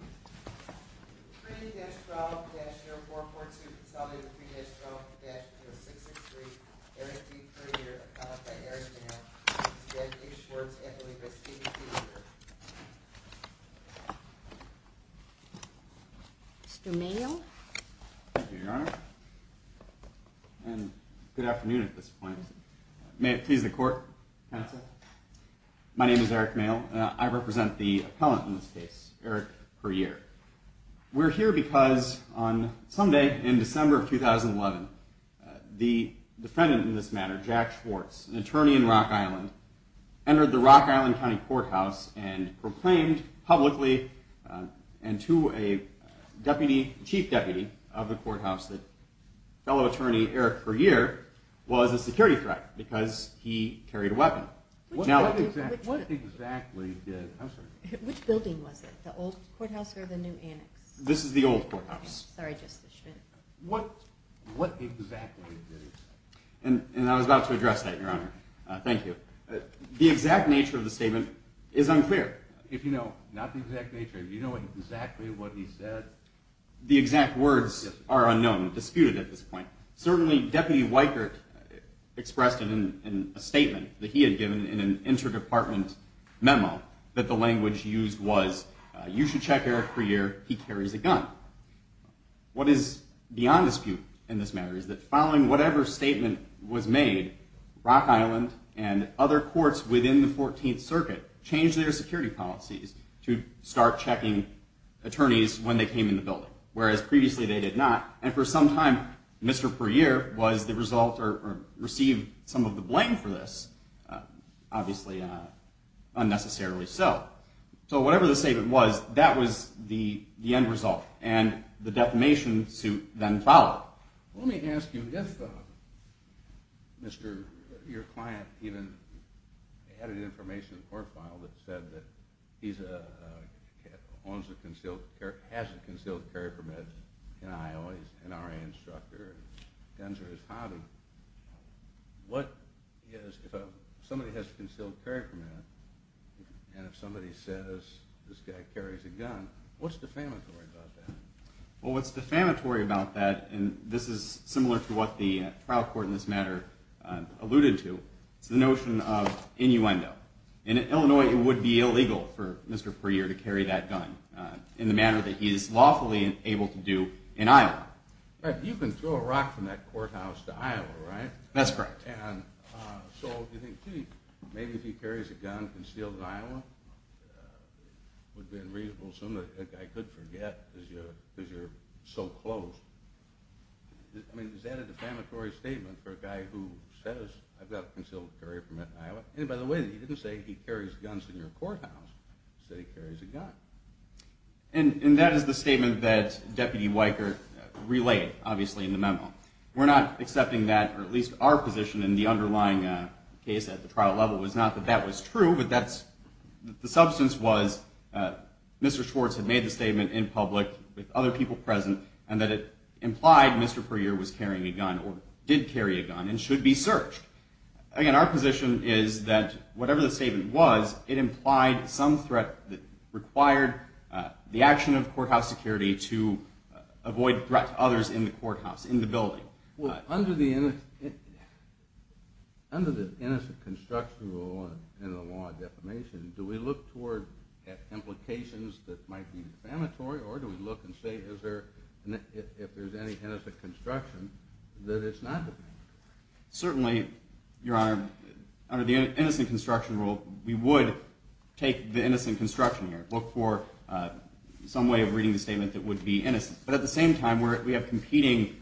3-12-0442, consolidated 3-12-0663, Eric D. Prayer, appellant by Eric Pryor, v. Schwartz, affiliated by Stephen C. Pryor. Mr. Mayo. Thank you, Your Honor. And good afternoon at this point. May it please the Court, counsel. My name is Eric Mayo. I represent the appellant in this case, Eric Pryor. We're here because on Sunday in December of 2011, the defendant in this matter, Jack Schwartz, an attorney in Rock Island, entered the Rock Island County Courthouse and proclaimed publicly and to a deputy, chief deputy of the courthouse, that fellow attorney Eric Pryor was a security threat because he carried a weapon. What exactly did, I'm sorry. Which building was it, the old courthouse or the new annex? This is the old courthouse. Sorry, Justice Schmidt. What exactly did he say? And I was about to address that, Your Honor. Thank you. The exact nature of the statement is unclear. If you know, not the exact nature, if you know exactly what he said. The exact words are unknown, disputed at this point. Certainly, Deputy Weikert expressed it in a statement that he had given in an interdepartment memo that the language used was, you should check Eric Pryor, he carries a gun. What is beyond dispute in this matter is that following whatever statement was made, Rock Island and other courts within the 14th Circuit changed their security policies to start checking attorneys when they came in the building, whereas previously they did not. And for some time, Mr. Pryor was the result or received some of the blame for this, obviously unnecessarily so. So whatever the statement was, that was the end result. And the defamation suit then followed. Let me ask you, if, Mr., your client even had any information in the court file that said that he owns a concealed, has a concealed carry permit in Iowa, he's an RA instructor, guns are his hobby, what is, if somebody has a concealed carry permit and if somebody says this guy carries a gun, what's defamatory about that? Well, what's defamatory about that, and this is similar to what the trial court in this matter alluded to, is the notion of innuendo. In Illinois, it would be illegal for Mr. Pryor to carry that gun in the manner that he is lawfully able to do in Iowa. You can throw a rock from that courthouse to Iowa, right? That's correct. And so you think, gee, maybe if he carries a gun concealed in Iowa, it would be unreasonable, something that that guy could forget because you're so close. I mean, is that a defamatory statement for a guy who says, I've got a concealed carry permit in Iowa? And by the way, he didn't say he carries guns in your courthouse. He said he carries a gun. And that is the statement that Deputy Weicker relayed, obviously, in the memo. We're not accepting that, or at least our position in the underlying case at the trial level was not that that was true, but the substance was Mr. Schwartz had made the statement in public with other people present and that it implied Mr. Pryor was carrying a gun or did carry a gun and should be searched. Again, our position is that whatever the statement was, it implied some threat that required the action of courthouse security to avoid threat to others in the courthouse, in the building. Well, under the innocent construction rule and the law of defamation, do we look toward implications that might be defamatory, or do we look and say, if there's any innocent construction, that it's not defamatory? Certainly, Your Honor, under the innocent construction rule, we would take the innocent construction here, look for some way of reading the statement that would be innocent. But at the same time, we have competing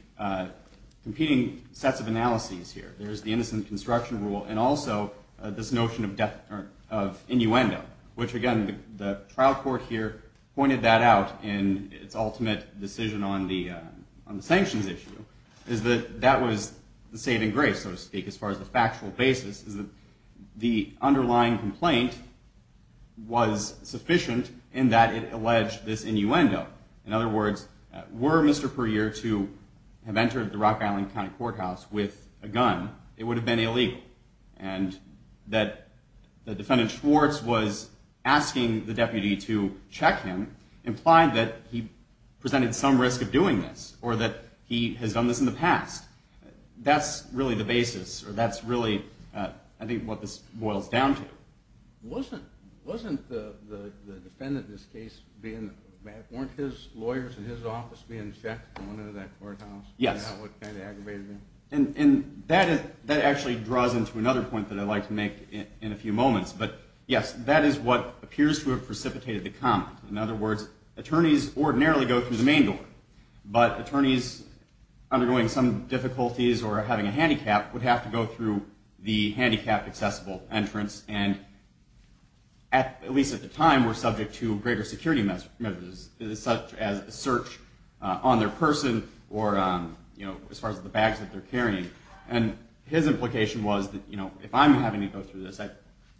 sets of analyses here. There's the innocent construction rule and also this notion of innuendo, which, again, the trial court here pointed that out in its ultimate decision on the sanctions issue, is that that was the saving grace, so to speak, as far as the factual basis is that the underlying complaint was sufficient in that it alleged this innuendo. In other words, were Mr. Pryor to have entered the Rock Island County Courthouse with a gun, it would have been illegal. And that the defendant, Schwartz, was asking the deputy to check him implied that he presented some risk of doing this or that he has done this in the past. That's really the basis, or that's really, I think, what this boils down to. Wasn't the defendant, in this case, weren't his lawyers in his office being checked going into that courthouse? Yes. What kind of aggravated him? That actually draws into another point that I'd like to make in a few moments. But, yes, that is what appears to have precipitated the comment. In other words, attorneys ordinarily go through the main door, but attorneys undergoing some difficulties or having a handicap would have to go through the handicapped accessible entrance and, at least at the time, were subject to greater security measures, such as a search on their person or as far as the bags that they're carrying. And his implication was that, you know, if I'm having to go through this, at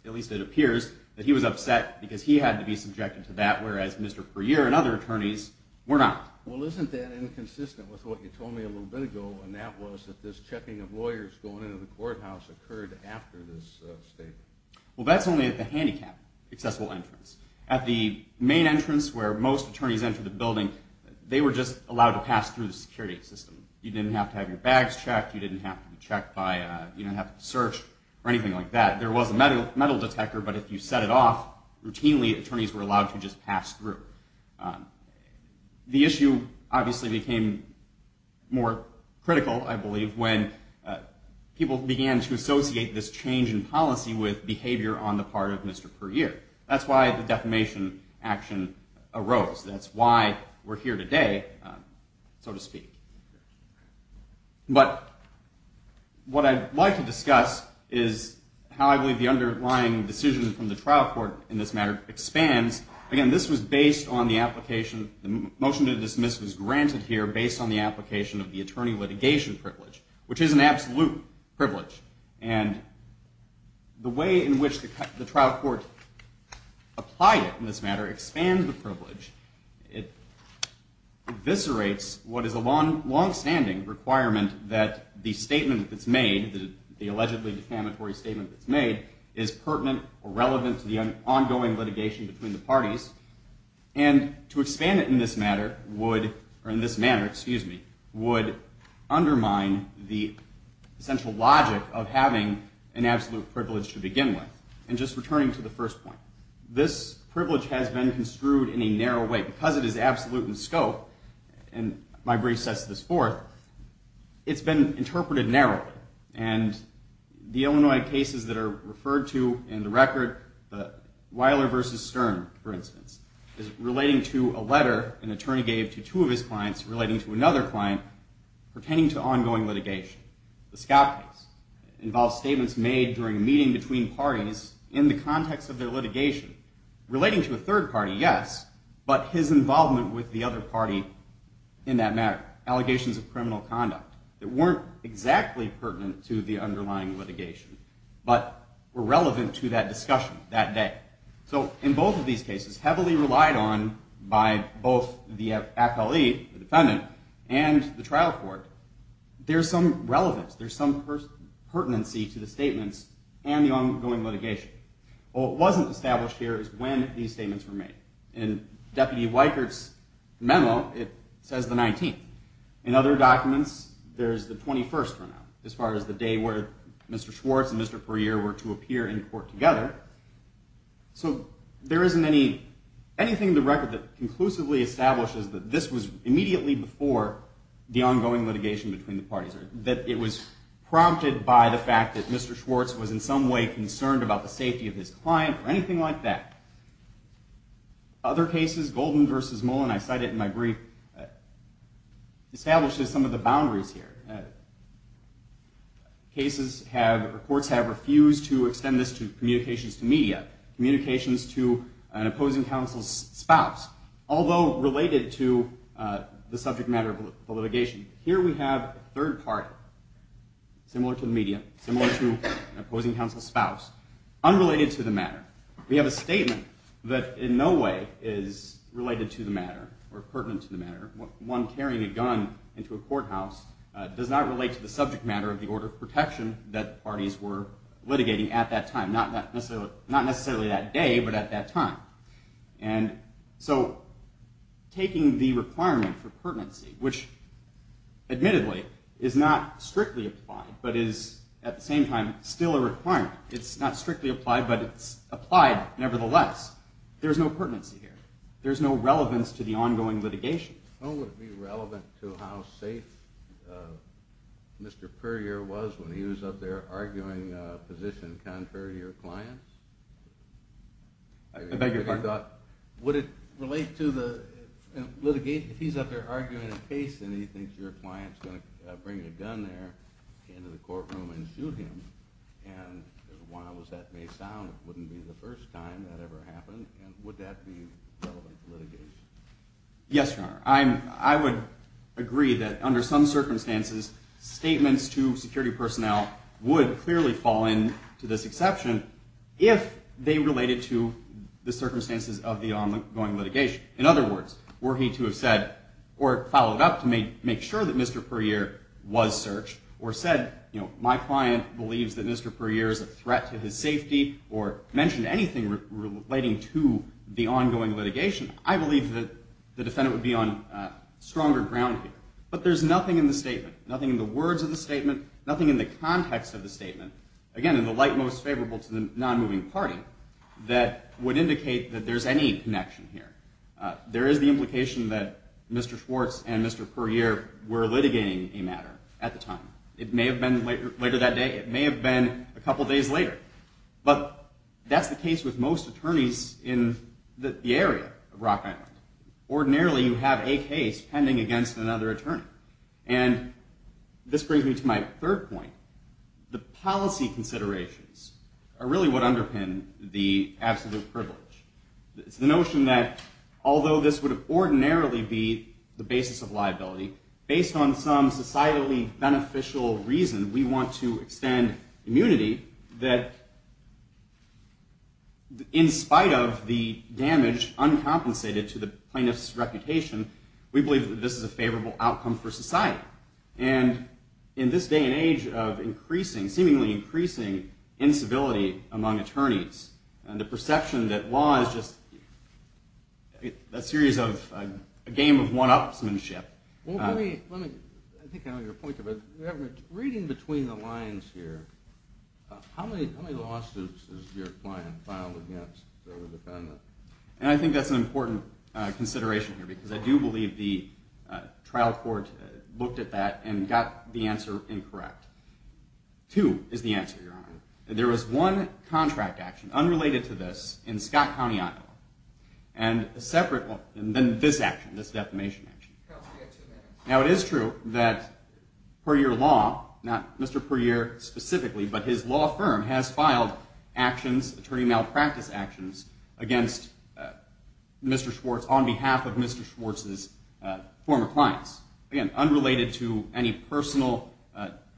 least it appears that he was upset because he had to be subjected to that, whereas Mr. Pryor and other attorneys were not. Well, isn't that inconsistent with what you told me a little bit ago, and that was that this checking of lawyers going into the courthouse occurred after this statement? Well, that's only at the handicapped accessible entrance. At the main entrance, where most attorneys enter the building, they were just allowed to pass through the security system. You didn't have to have your bags checked. You didn't have to be checked by a search or anything like that. There was a metal detector, but if you set it off, routinely attorneys were allowed to just pass through. The issue obviously became more critical, I believe, when people began to associate this change in policy with behavior on the part of Mr. Pryor. That's why the defamation action arose. That's why we're here today, so to speak. But what I'd like to discuss is how I believe the underlying decision from the trial court in this matter expands. Again, this was based on the application. The motion to dismiss was granted here based on the application of the attorney litigation privilege, which is an absolute privilege. And the way in which the trial court applied it in this matter expands the privilege. It eviscerates what is a longstanding requirement that the statement that's made, the allegedly defamatory statement that's made, is pertinent or relevant to the ongoing litigation between the parties. And to expand it in this manner would undermine the essential logic of having an absolute privilege to begin with. And just returning to the first point, this privilege has been construed in a narrow way. Because it is absolute in scope, and my brief sets this forth, it's been interpreted narrowly. And the Illinois cases that are referred to in the record, the Weiler v. Stern, for instance, is relating to a letter an attorney gave to two of his clients relating to another client pertaining to ongoing litigation. The Scott case involves statements made during a meeting between parties in the context of their litigation. Relating to a third party, yes, but his involvement with the other party in that matter. Allegations of criminal conduct that weren't exactly pertinent to the underlying litigation, but were relevant to that discussion that day. So in both of these cases, it's heavily relied on by both the FLE, the defendant, and the trial court. There's some relevance, there's some pertinency to the statements and the ongoing litigation. What wasn't established here is when these statements were made. In Deputy Weikert's memo, it says the 19th. In other documents, there's the 21st for now, as far as the day where Mr. Schwartz and Mr. Puryear were to appear in court together. So there isn't anything in the record that conclusively establishes that this was immediately before the ongoing litigation between the parties, or that it was prompted by the fact that Mr. Schwartz was in some way concerned about the safety of his client, or anything like that. Other cases, Golden v. Mullen, I cite it in my brief, establishes some of the boundaries here. Courts have refused to extend this to communications to media, communications to an opposing counsel's spouse, although related to the subject matter of the litigation. Here we have a third part, similar to the media, similar to an opposing counsel's spouse, unrelated to the matter. We have a statement that in no way is related to the matter, or pertinent to the matter. One carrying a gun into a courthouse does not relate to the subject matter of the order of protection that the parties were litigating at that time. Not necessarily that day, but at that time. And so taking the requirement for pertinency, which admittedly is not strictly applied, but is at the same time still a requirement. It's not strictly applied, but it's applied nevertheless. There's no pertinency here. There's no relevance to the ongoing litigation. How would it be relevant to how safe Mr. Puryear was when he was up there arguing a position contrary to your clients? I beg your pardon? Would it relate to the litigation? If he's up there arguing a case, and he thinks your client's going to bring a gun there into the courtroom and shoot him, and as wild as that may sound, would that be relevant to litigation? Yes, Your Honor. I would agree that under some circumstances statements to security personnel would clearly fall into this exception if they related to the circumstances of the ongoing litigation. In other words, were he to have said, or followed up to make sure that Mr. Puryear was searched, or said, you know, my client believes that Mr. Puryear is a threat to his safety, or mentioned anything relating to the ongoing litigation, I believe that the defendant would be on stronger ground here. But there's nothing in the statement, nothing in the words of the statement, nothing in the context of the statement, again, in the light most favorable to the non-moving party, that would indicate that there's any connection here. There is the implication that Mr. Schwartz and Mr. Puryear were litigating a matter at the time. It may have been later that day. It may have been a couple days later. But that's the case with most attorneys in the area of Rock Island. Ordinarily, you have a case pending against another attorney. And this brings me to my third point. The policy considerations are really what underpin the absolute privilege. It's the notion that although this would ordinarily be the basis of liability, based on some societally beneficial reason, we want to extend immunity that, in spite of the damage uncompensated to the plaintiff's reputation, we believe that this is a favorable outcome for society. And in this day and age of increasing, seemingly increasing, incivility among attorneys, and the perception that law is just a series of, a game of one-upsmanship. I think I know your point. Reading between the lines here, how many lawsuits has your client filed against a defendant? And I think that's an important consideration here, because I do believe the trial court looked at that and got the answer incorrect. Two is the answer, Your Honor. in Scott County, Iowa. And then this action, this defamation action. Now, it is true that Perier Law, not Mr. Perier specifically, but his law firm has filed actions, attorney malpractice actions, against Mr. Schwartz on behalf of Mr. Schwartz's former clients. Again, unrelated to any personal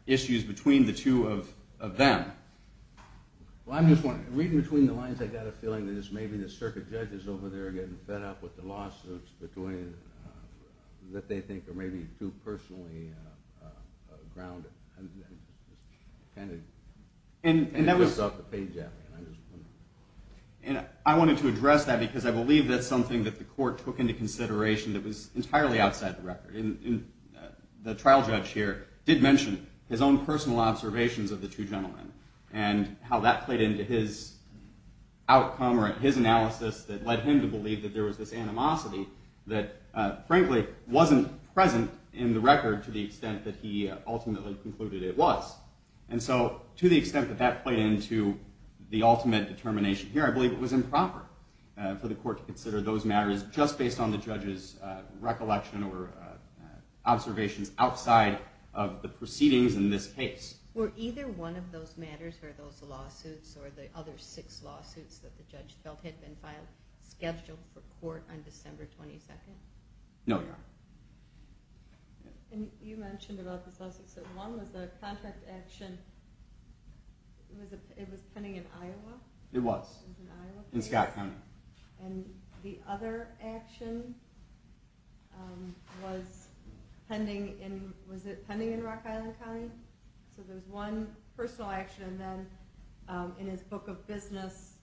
issues between the two of them. Well, I'm just wondering, reading between the lines, I got a feeling that it's maybe the circuit judges over there are getting fed up with the lawsuits that they think are maybe too personally grounded. And that was... And I wanted to address that, because I believe that's something that the court took into consideration that was entirely outside the record. The trial judge here did mention his own personal observations of the two gentlemen, and how that played into his outcome or his analysis that led him to believe that there was this animosity that, frankly, wasn't present in the record to the extent that he ultimately concluded it was. And so, to the extent that that played into the ultimate determination here, I believe it was improper for the court to consider those matters just based on the judge's recollection or observations outside of the proceedings in this case. Were either one of those matters, or those lawsuits, or the other six lawsuits that the judge felt had been filed, scheduled for court on December 22nd? No, Your Honor. And you mentioned about this lawsuit, so one was the contract action... It was pending in Iowa? It was. In Iowa? In Scott County. And the other action was pending in... Was it pending in Rock Island County? So there was one personal action, and then in his book of business,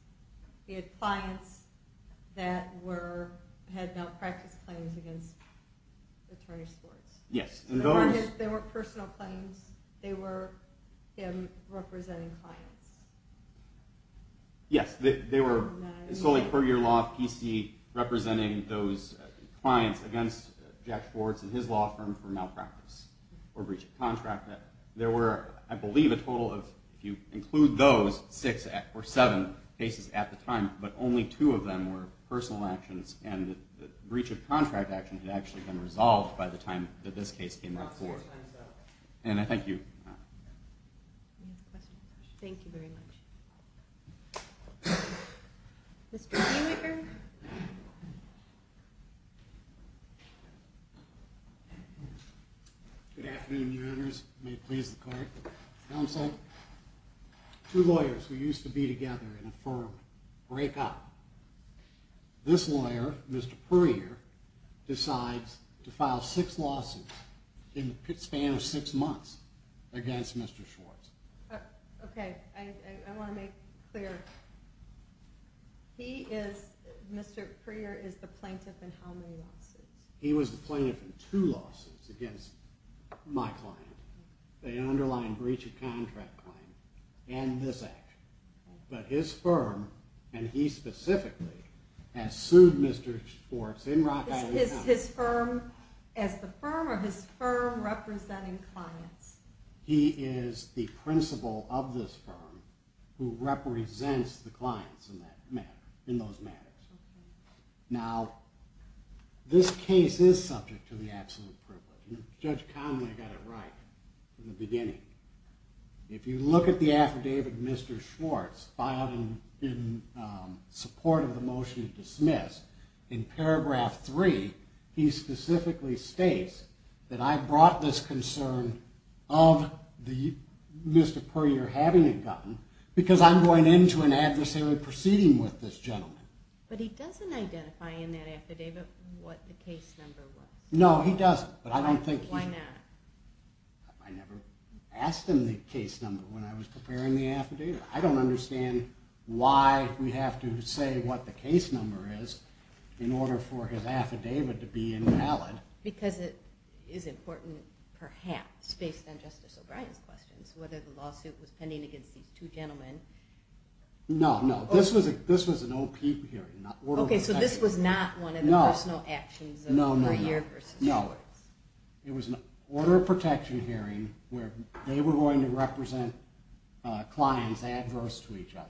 he had clients that had malpractice claims against attorney Schwartz. Yes, and those... They weren't personal claims. They were him representing clients. Yes, they were solely per your law of PC, representing those clients against Jack Schwartz and his law firm for malpractice or breach of contract. There were, I believe, a total of, if you include those, six or seven cases at the time, but only two of them were personal actions, and the breach of contract action had actually been resolved by the time that this case came before. And I thank you. Thank you very much. Mr. Haymaker? Good afternoon, your honors. May it please the court. You know what I'm saying? Two lawyers who used to be together in a firm break up. This lawyer, Mr. Puryear, decides to file six lawsuits in the span of six months against Mr. Schwartz. Okay, I want to make it clear. He is, Mr. Puryear is the plaintiff in how many lawsuits? He was the plaintiff in two lawsuits against my client. The underlying breach of contract claim and this action. But his firm, and he specifically, has sued Mr. Schwartz in Rock Island County. Is his firm as the firm or his firm representing clients? He is the principal of this firm who represents the clients in those matters. Now, this case is subject to the absolute privilege. Judge Conway got it right in the beginning. If you look at the affidavit Mr. Schwartz filed in support of the motion to dismiss, in paragraph three, he specifically states that I brought this concern of Mr. Puryear having a gun because I'm going into an adversary proceeding with this gentleman. But he doesn't identify in that affidavit what the case number was. No, he doesn't. Why not? I never asked him the case number when I was preparing the affidavit. I don't understand why we have to say what the case number is in order for his affidavit to be invalid. Because it is important, perhaps, based on Justice O'Brien's questions, whether the lawsuit was pending against these two gentlemen. No, no. This was an OP hearing, not order of protection hearing. Okay, so this was not one of the personal actions of Puryear versus Schwartz. No, it was an order of protection hearing where they were going to represent clients adverse to each other.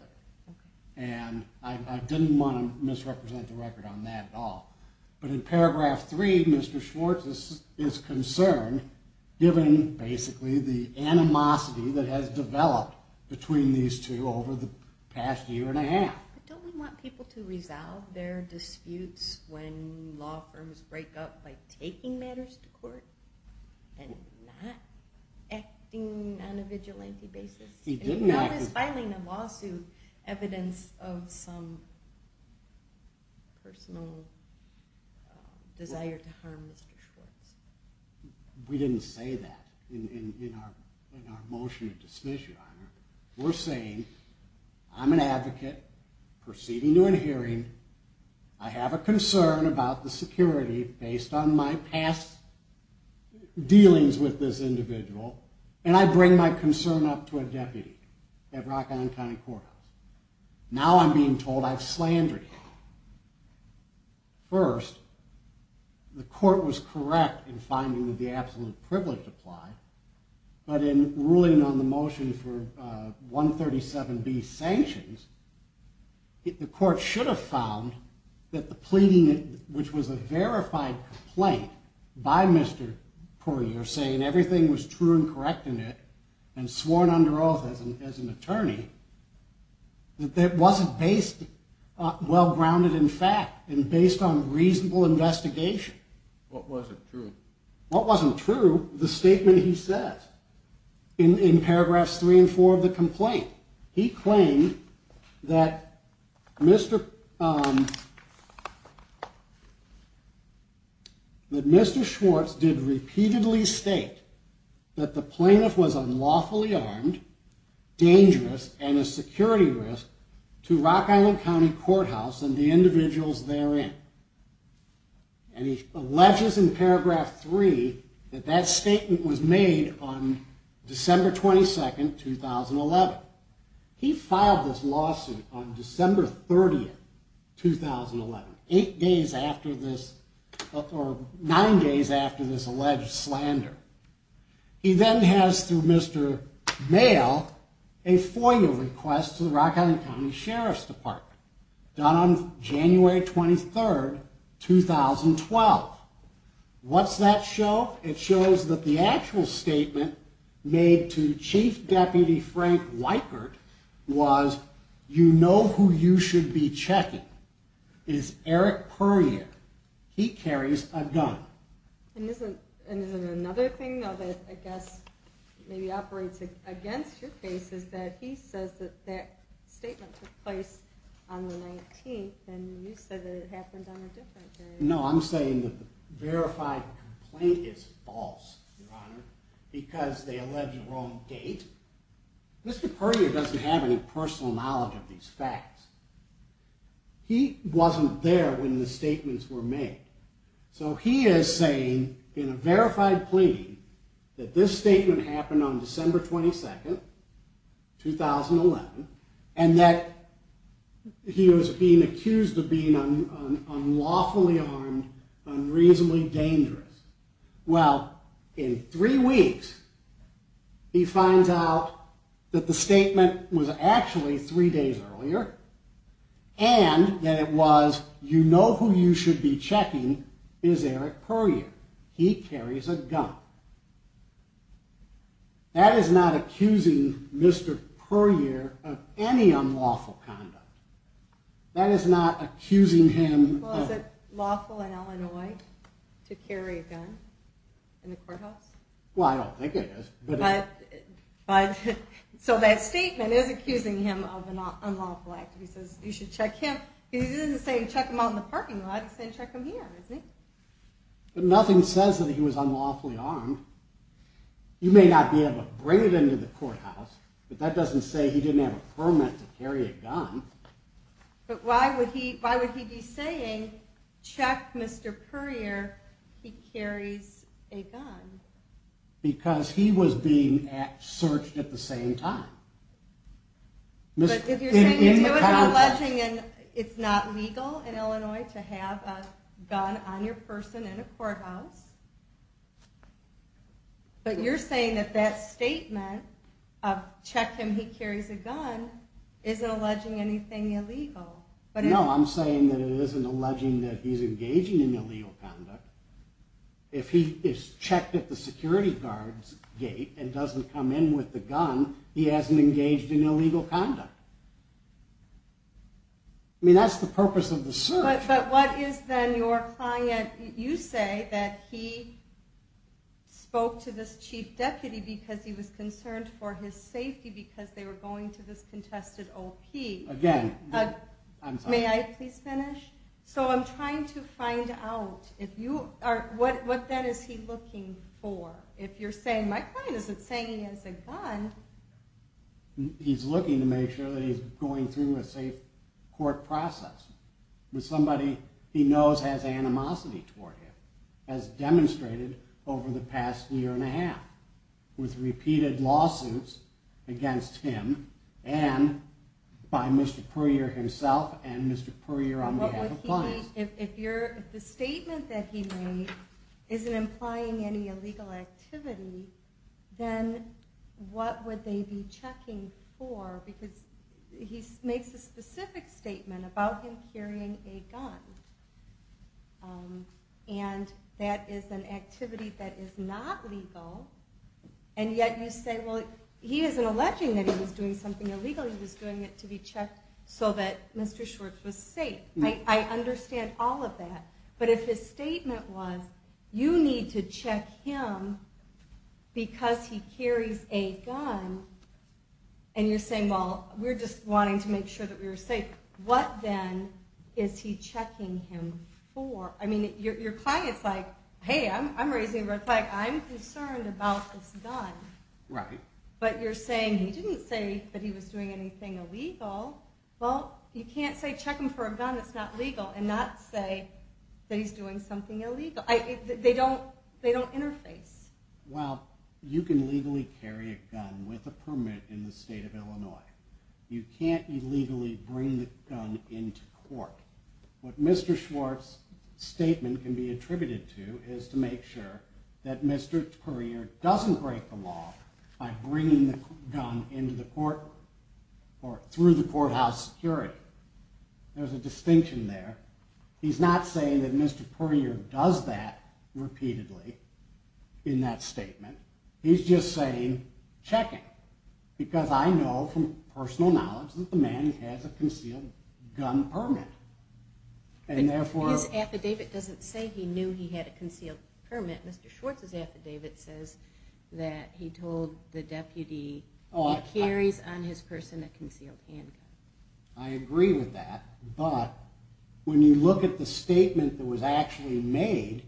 And I didn't want to misrepresent the record on that at all. But in paragraph three, Mr. Schwartz is concerned, given, basically, the animosity that has developed between these two over the past year and a half. But don't we want people to resolve their disputes when law firms break up by taking matters to court and not acting on a vigilante basis? He didn't act... What is filing a lawsuit evidence of some personal desire to harm Mr. Schwartz? We didn't say that in our motion of dismissal, Your Honor. We're saying, I'm an advocate proceeding to an hearing. I have a concern about the security based on my past dealings with this individual. And I bring my concern up to a deputy at Rock Island County Courthouse. Now I'm being told I've slandered him. First, the court was correct in finding that the absolute privilege applied. But in ruling on the motion for 137B sanctions, the court should have found that the pleading, which was a verified complaint by Mr. Puryear, saying everything was true and correct in it, and sworn under oath as an attorney, that it wasn't well-grounded in fact and based on reasonable investigation. What wasn't true? What wasn't true, the statement he says in paragraphs 3 and 4 of the complaint. He claimed that Mr. Schwartz did repeatedly state that the plaintiff was unlawfully armed, dangerous, and a security risk to Rock Island County Courthouse and the individuals therein. And he alleges in paragraph 3 that that statement was on December 22, 2011. He filed this lawsuit on December 30, 2011, nine days after this alleged slander. He then has, through Mr. Maile, a FOIA request to the Rock Island County Sheriff's Department done on January 23, 2012. What's that show? It shows that the actual statement made to Chief Deputy Frank Weichert was, you know who you should be checking is Eric Puryear. He carries a gun. And isn't another thing, though, that I guess maybe operates against your case is that he says that that statement took place on the 19th and you said that it happened on a different day. No, I'm saying that the verified complaint is false, Your Honor, because they allege a wrong date. Mr. Puryear doesn't have any personal knowledge of these facts. He wasn't there when the statements were made. So he is saying, in a verified plea, that this statement happened on December 22, 2011, and that he was being accused of being unlawfully armed, unreasonably dangerous. Well, in three weeks, he finds out that the statement was actually three days earlier and that it was, you know who you should be checking is Eric Puryear. He carries a gun. That is not accusing Mr. Puryear of any unlawful conduct. That is not accusing him of... Well, is it lawful in Illinois to carry a gun in the courthouse? Well, I don't think it is, but... So that statement is accusing him of an unlawful act. He says you should check him. He isn't saying check him out in the parking lot. He's saying check him here, isn't he? But nothing says that he was unlawfully armed. You may not be able to bring it into the courthouse, but that doesn't say he didn't have a permit to carry a gun. But why would he be saying, check Mr. Puryear, he carries a gun? Because he was being searched at the same time. But if you're saying you do it, You're alleging it's not legal in Illinois to have a gun on your person in a courthouse. But you're saying that that statement of check him, he carries a gun, isn't alleging anything illegal. No, I'm saying that it isn't alleging that he's engaging in illegal conduct. If he is checked at the security guard's gate and doesn't come in with the gun, he hasn't engaged in illegal conduct. I mean, that's the purpose of the search. But what is then your client, you say that he spoke to this chief deputy because he was concerned for his safety because they were going to this contested OP. Again, I'm sorry. May I please finish? So I'm trying to find out, what then is he looking for? If you're saying, my client isn't saying he has a gun, he's looking to make sure that he's going through a safe court process with somebody he knows has animosity toward him, as demonstrated over the past year and a half with repeated lawsuits against him and by Mr. Puryear himself and Mr. Puryear on behalf of clients. If the statement that he made isn't implying any illegal activity, then what would they be checking for? Because he makes a specific statement about him carrying a gun. And that is an activity that is not legal. And yet you say, well, he isn't alleging that he was doing something illegal. He was doing it to be checked so that Mr. Schwartz was safe. I understand all of that. But if his statement was, you need to check him because he carries a gun and you're saying, well, we're just wanting to make sure that we're safe. What then is he checking him for? I mean, your client's like, hey, I'm raising a red flag. I'm concerned about this gun. Right. But you're saying, he didn't say that he was doing anything illegal. Well, you can't say check him for a gun, that's not legal and not say that he's doing something illegal. They don't interface. Well, you can legally carry a gun with a permit in the state of Illinois. You can't illegally bring the gun into court. What Mr. Schwartz's statement can be attributed to is to make sure that Mr. Courier doesn't break the law by bringing the gun into the court or through the courthouse security. There's a distinction there. He's not saying that Mr. Courier does that repeatedly in that statement. He's just saying check him because I know from personal knowledge that the man has a concealed gun permit. His affidavit doesn't say he knew he had a concealed permit. Mr. Schwartz's affidavit says that he told the deputy he carries on his person a concealed handgun. I agree with that, but when you look at the statement that was actually made,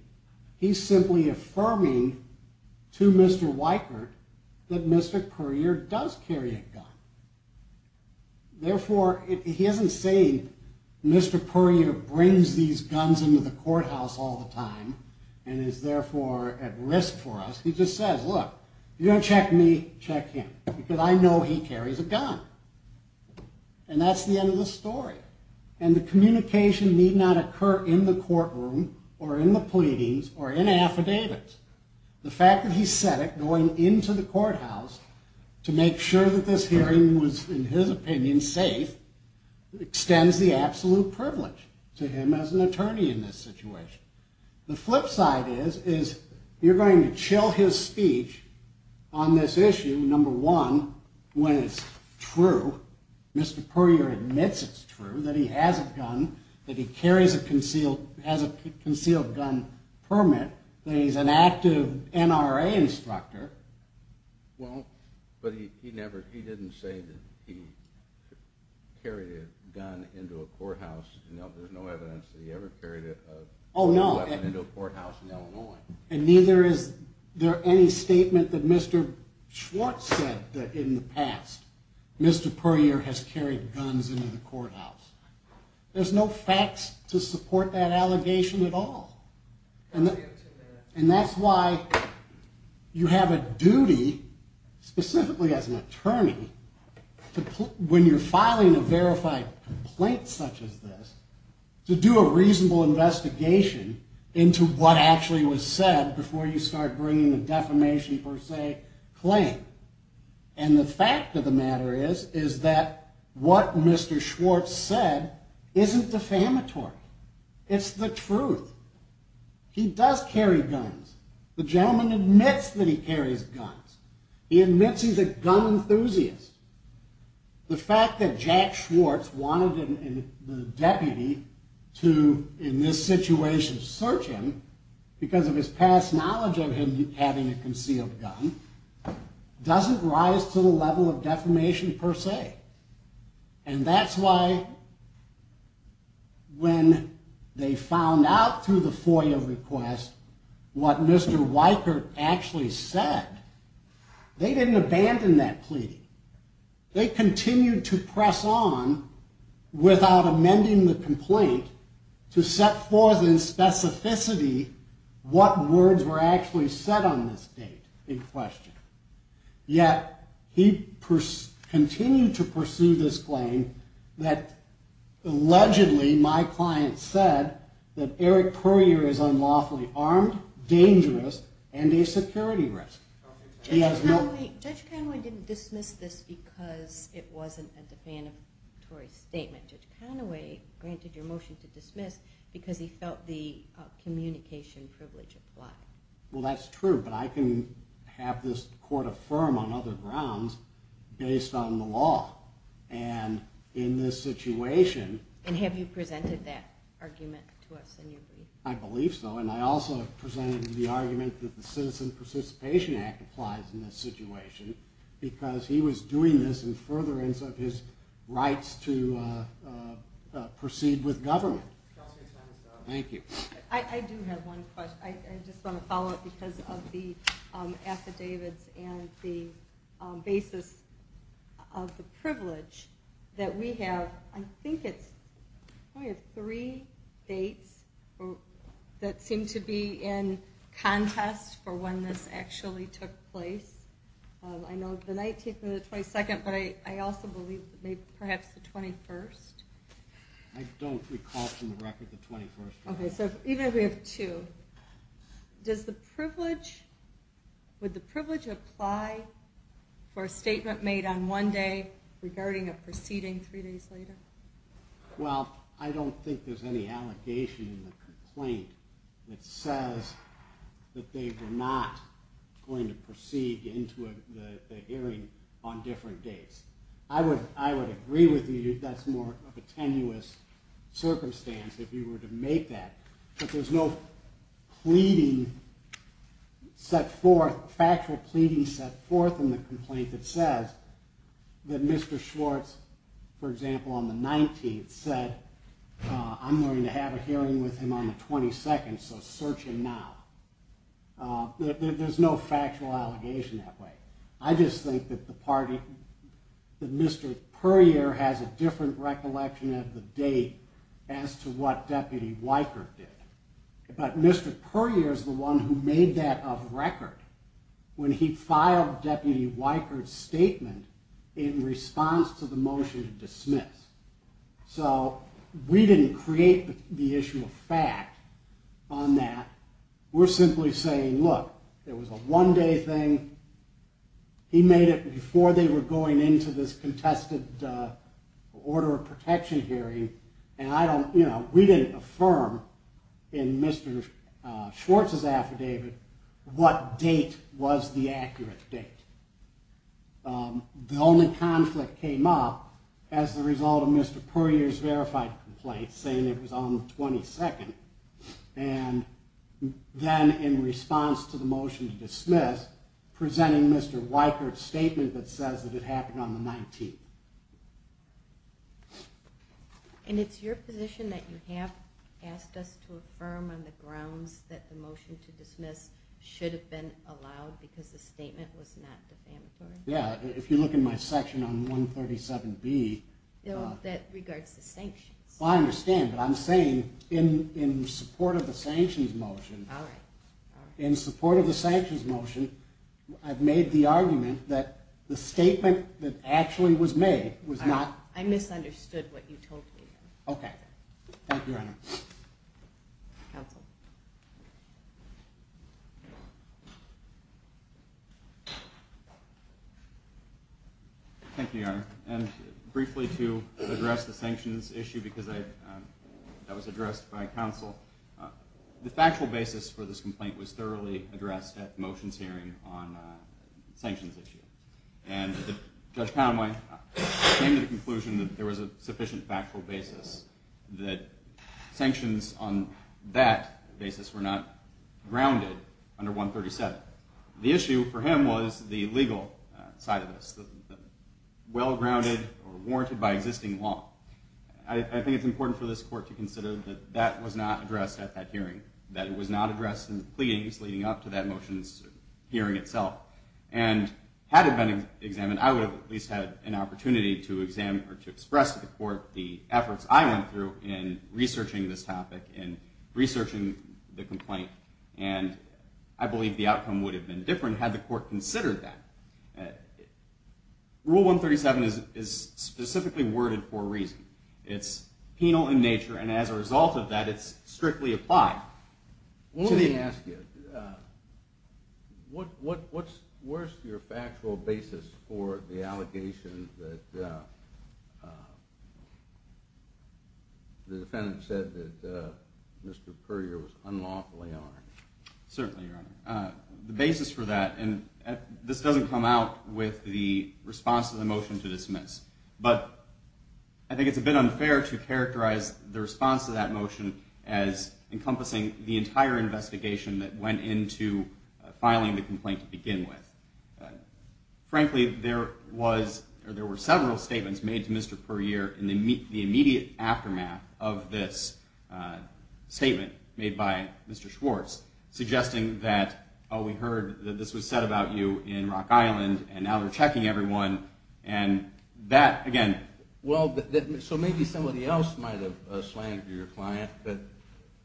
he's simply affirming to Mr. Weichert that Mr. Courier does carry a gun. Therefore, he isn't saying Mr. Courier brings these guns into the courthouse all the time and is therefore at risk for us. He just says look, if you're going to check me, check him because I know he carries a gun. That's the end of the story. The communication need not occur in the courtroom or in the pleadings or in affidavits. The fact that he said it going into the courthouse to make sure that this hearing was, in his opinion, safe extends the absolute privilege to him as an attorney in this situation. The flip side is you're going to chill his speech on this issue, number one, when it's true, Mr. Courier admits it's true that he has a gun, that he has a concealed gun permit, that he's an active NRA instructor. But he didn't say that he carried a gun into a courthouse. There's no evidence that he ever carried a weapon into a courthouse in Illinois. And neither is there any statement that Mr. Schwartz said in the past, Mr. Courier has carried guns into the courthouse. There's no facts to support that allegation at all. And that's why you have a duty, specifically as an attorney, when you're filing a verified complaint such as this, to do a reasonable investigation into what actually was said before you start bringing a defamation per se claim. And the fact of the matter is is that what Mr. Schwartz said isn't defamatory. It's the truth. He does carry guns. The gentleman admits that he carries guns. He admits he's a gun enthusiast. The fact that Jack Schwartz wanted the deputy to, in this situation, search him because of his past knowledge of him having a concealed gun doesn't rise to the level of defamation per se. And that's why when they found out through the FOIA request what Mr. Weicker actually said, they didn't abandon that plea. They continued to press on without amending the complaint to set forth in specificity what words were actually said on this date in question. Yet, he continued to pursue this claim that allegedly my client said that Eric Puryear is unlawfully armed, dangerous, and a security risk. Judge Conaway didn't dismiss this because it wasn't a defamatory statement. Judge Conaway granted your motion to dismiss because he felt the communication privilege applied. Well, that's true, but I can have this court affirm on other grounds based on the law. And in this situation... And have you presented that argument to us in your brief? I believe so. And I also presented the argument that the Citizen Participation Act applies in this situation because he was doing this in furtherance of his rights to proceed with government. Thank you. I do have one question. I just want to follow up because of the affidavits and the basis of the privilege that we have. I think it's three dates that seem to be in contest for when this actually took place. I know the night of the 22nd, but I also believe perhaps the 21st. I don't recall from the record the 21st. Even if we have two, does the privilege... Would the privilege apply for a statement made on one day regarding a proceeding three days later? Well, I don't think there's any allegation in the complaint that says that they were not going to proceed into the hearing on different dates. I would agree with you that's more of a tenuous circumstance if you were to make that. But there's no pleading set forth, factual pleading set forth in the complaint that says that Mr. Schwartz, for example, on the 19th said I'm going to have a hearing with him on the 22nd, so search him now. There's no factual allegation that way. I just think that the party, that Mr. Puryear has a different recollection of the date as to what Deputy Weikert did. But Mr. Puryear is the one who made that of record when he filed Deputy Weikert's statement in response to the motion to dismiss. So we didn't create the issue of fact on that. We're simply saying look, it was a one day thing, he made it before they were going into this contested order of protection hearing and we didn't affirm in Mr. Schwartz's affidavit what date was the accurate date. The only conflict came up as a result of Mr. Puryear's verified complaint saying it was on the 22nd. And then in response to the motion to dismiss, presenting Mr. Weikert's statement that says that it happened on the 19th. And it's your position that you have asked us to affirm on the grounds that the motion to dismiss should have been allowed because the statement was not defamatory? Yeah, if you look in my section on 137B... I understand, but I'm saying in support of the sanctions motion, in support of the sanctions motion, I've made the argument that the statement that actually was made was not... I misunderstood what you told me. Okay. Thank you, Your Honor. Counsel. Thank you, Your Honor. And briefly to address the sanctions issue because that was addressed by counsel. The factual basis for this complaint was thoroughly addressed at the motions hearing on the sanctions issue. And Judge Conway came to the conclusion that there was a sufficient factual basis that sanctions on that basis were not grounded under 137. The issue for him was the legal side of this. Well-grounded or warranted by existing law. I think it's important for this court to consider that that was not addressed at that hearing. That it was not addressed in the pleadings leading up to that motions hearing itself. And had it been examined, I would have at least had an opportunity to examine or to express to the court the efforts I went through in researching this topic and researching the complaint. And I believe the outcome would have been different had the court considered that. Rule 137 is specifically worded for a reason. It's penal in nature, and as a result of that, it's strictly applied. Let me ask you, what's your factual basis for the allegation that the defendant said that Mr. Currier was unlawfully armed? Certainly, Your Honor. The basis for that and this doesn't come out with the response to the motion to dismiss. But I think it's a bit unfair to characterize the response to that motion as encompassing the entire investigation that went into filing the complaint to begin with. Frankly, there were several statements made to Mr. Currier in the immediate aftermath of this statement made by Mr. Schwartz, suggesting that, oh, we heard that this was said about you in Rock Island, and now they're checking everyone, and that, again... So maybe somebody else might have slanged your client, but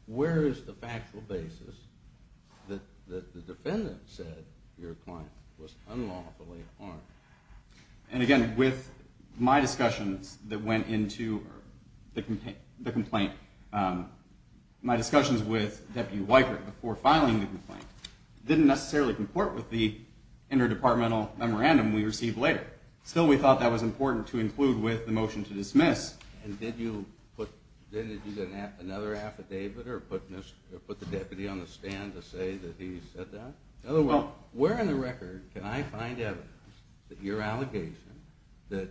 where is the factual basis that the defendant said your client was unlawfully armed? And again, with my discussions that went into the complaint, my discussions with filing the complaint didn't necessarily comport with the interdepartmental memorandum we received later. Still, we thought that was important to include with the motion to dismiss. And did you put another affidavit, or put the deputy on the stand to say that he said that? Oh, well, where in the record can I find evidence that your allegation that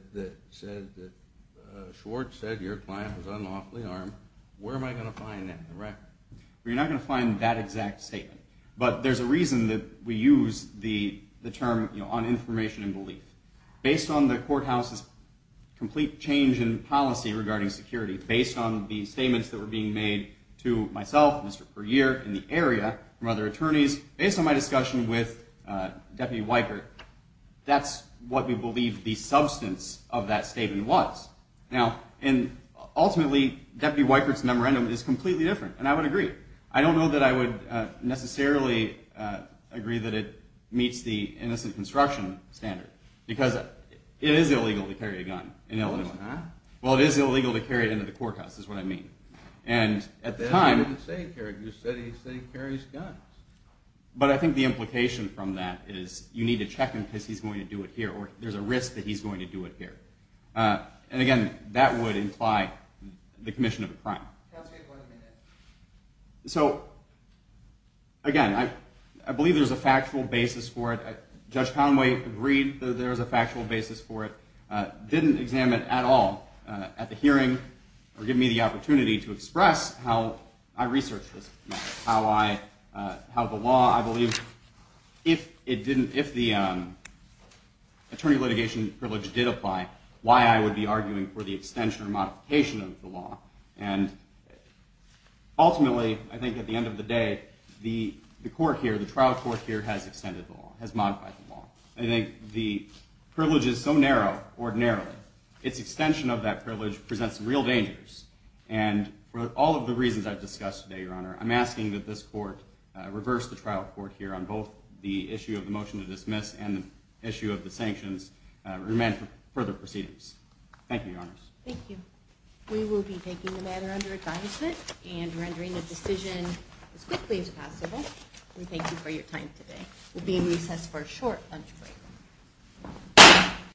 Schwartz said your client was unlawfully armed, where am I going to find that in the record? Well, you're not going to find that exact statement. But there's a reason that we use the term on information and belief. Based on the courthouse's complete change in policy regarding security, based on the statements that were being made to myself, Mr. Perier, in the area, from other attorneys, based on my discussion with Deputy Weikert, that's what we believe the substance of that statement was. And ultimately, Deputy Weikert's memorandum is completely different, and I would agree. I don't know that I would necessarily agree that it meets the innocent construction standard, because it is illegal to carry a gun in Illinois. Well, it is illegal to carry it into the courthouse, is what I mean. And at the time... You said he carries guns. But I think the implication from that is you need to check him because he's going to do it here, or there's a risk that he's going to do it here. And again, that would imply the commission of a crime. So, again, I believe there's a factual basis for it. Judge Conway agreed that there's a factual basis for it, didn't examine it at all at the hearing, or give me the opportunity to express how I research this matter, how the law, I believe, if the attorney litigation privilege did justify why I would be arguing for the extension or modification of the law. And ultimately, I think at the end of the day, the court here, the trial court here, has extended the law, has modified the law. I think the privilege is so narrow, ordinarily, its extension of that privilege presents real dangers. And for all of the reasons I've discussed today, Your Honor, I'm asking that this court reverse the trial court here on both the issue of the motion to dismiss and the sanctions and demand further proceedings. Thank you, Your Honors. Thank you. We will be taking the matter under advisement and rendering a decision as quickly as possible. We thank you for your time today. We'll be in recess for a short lunch break.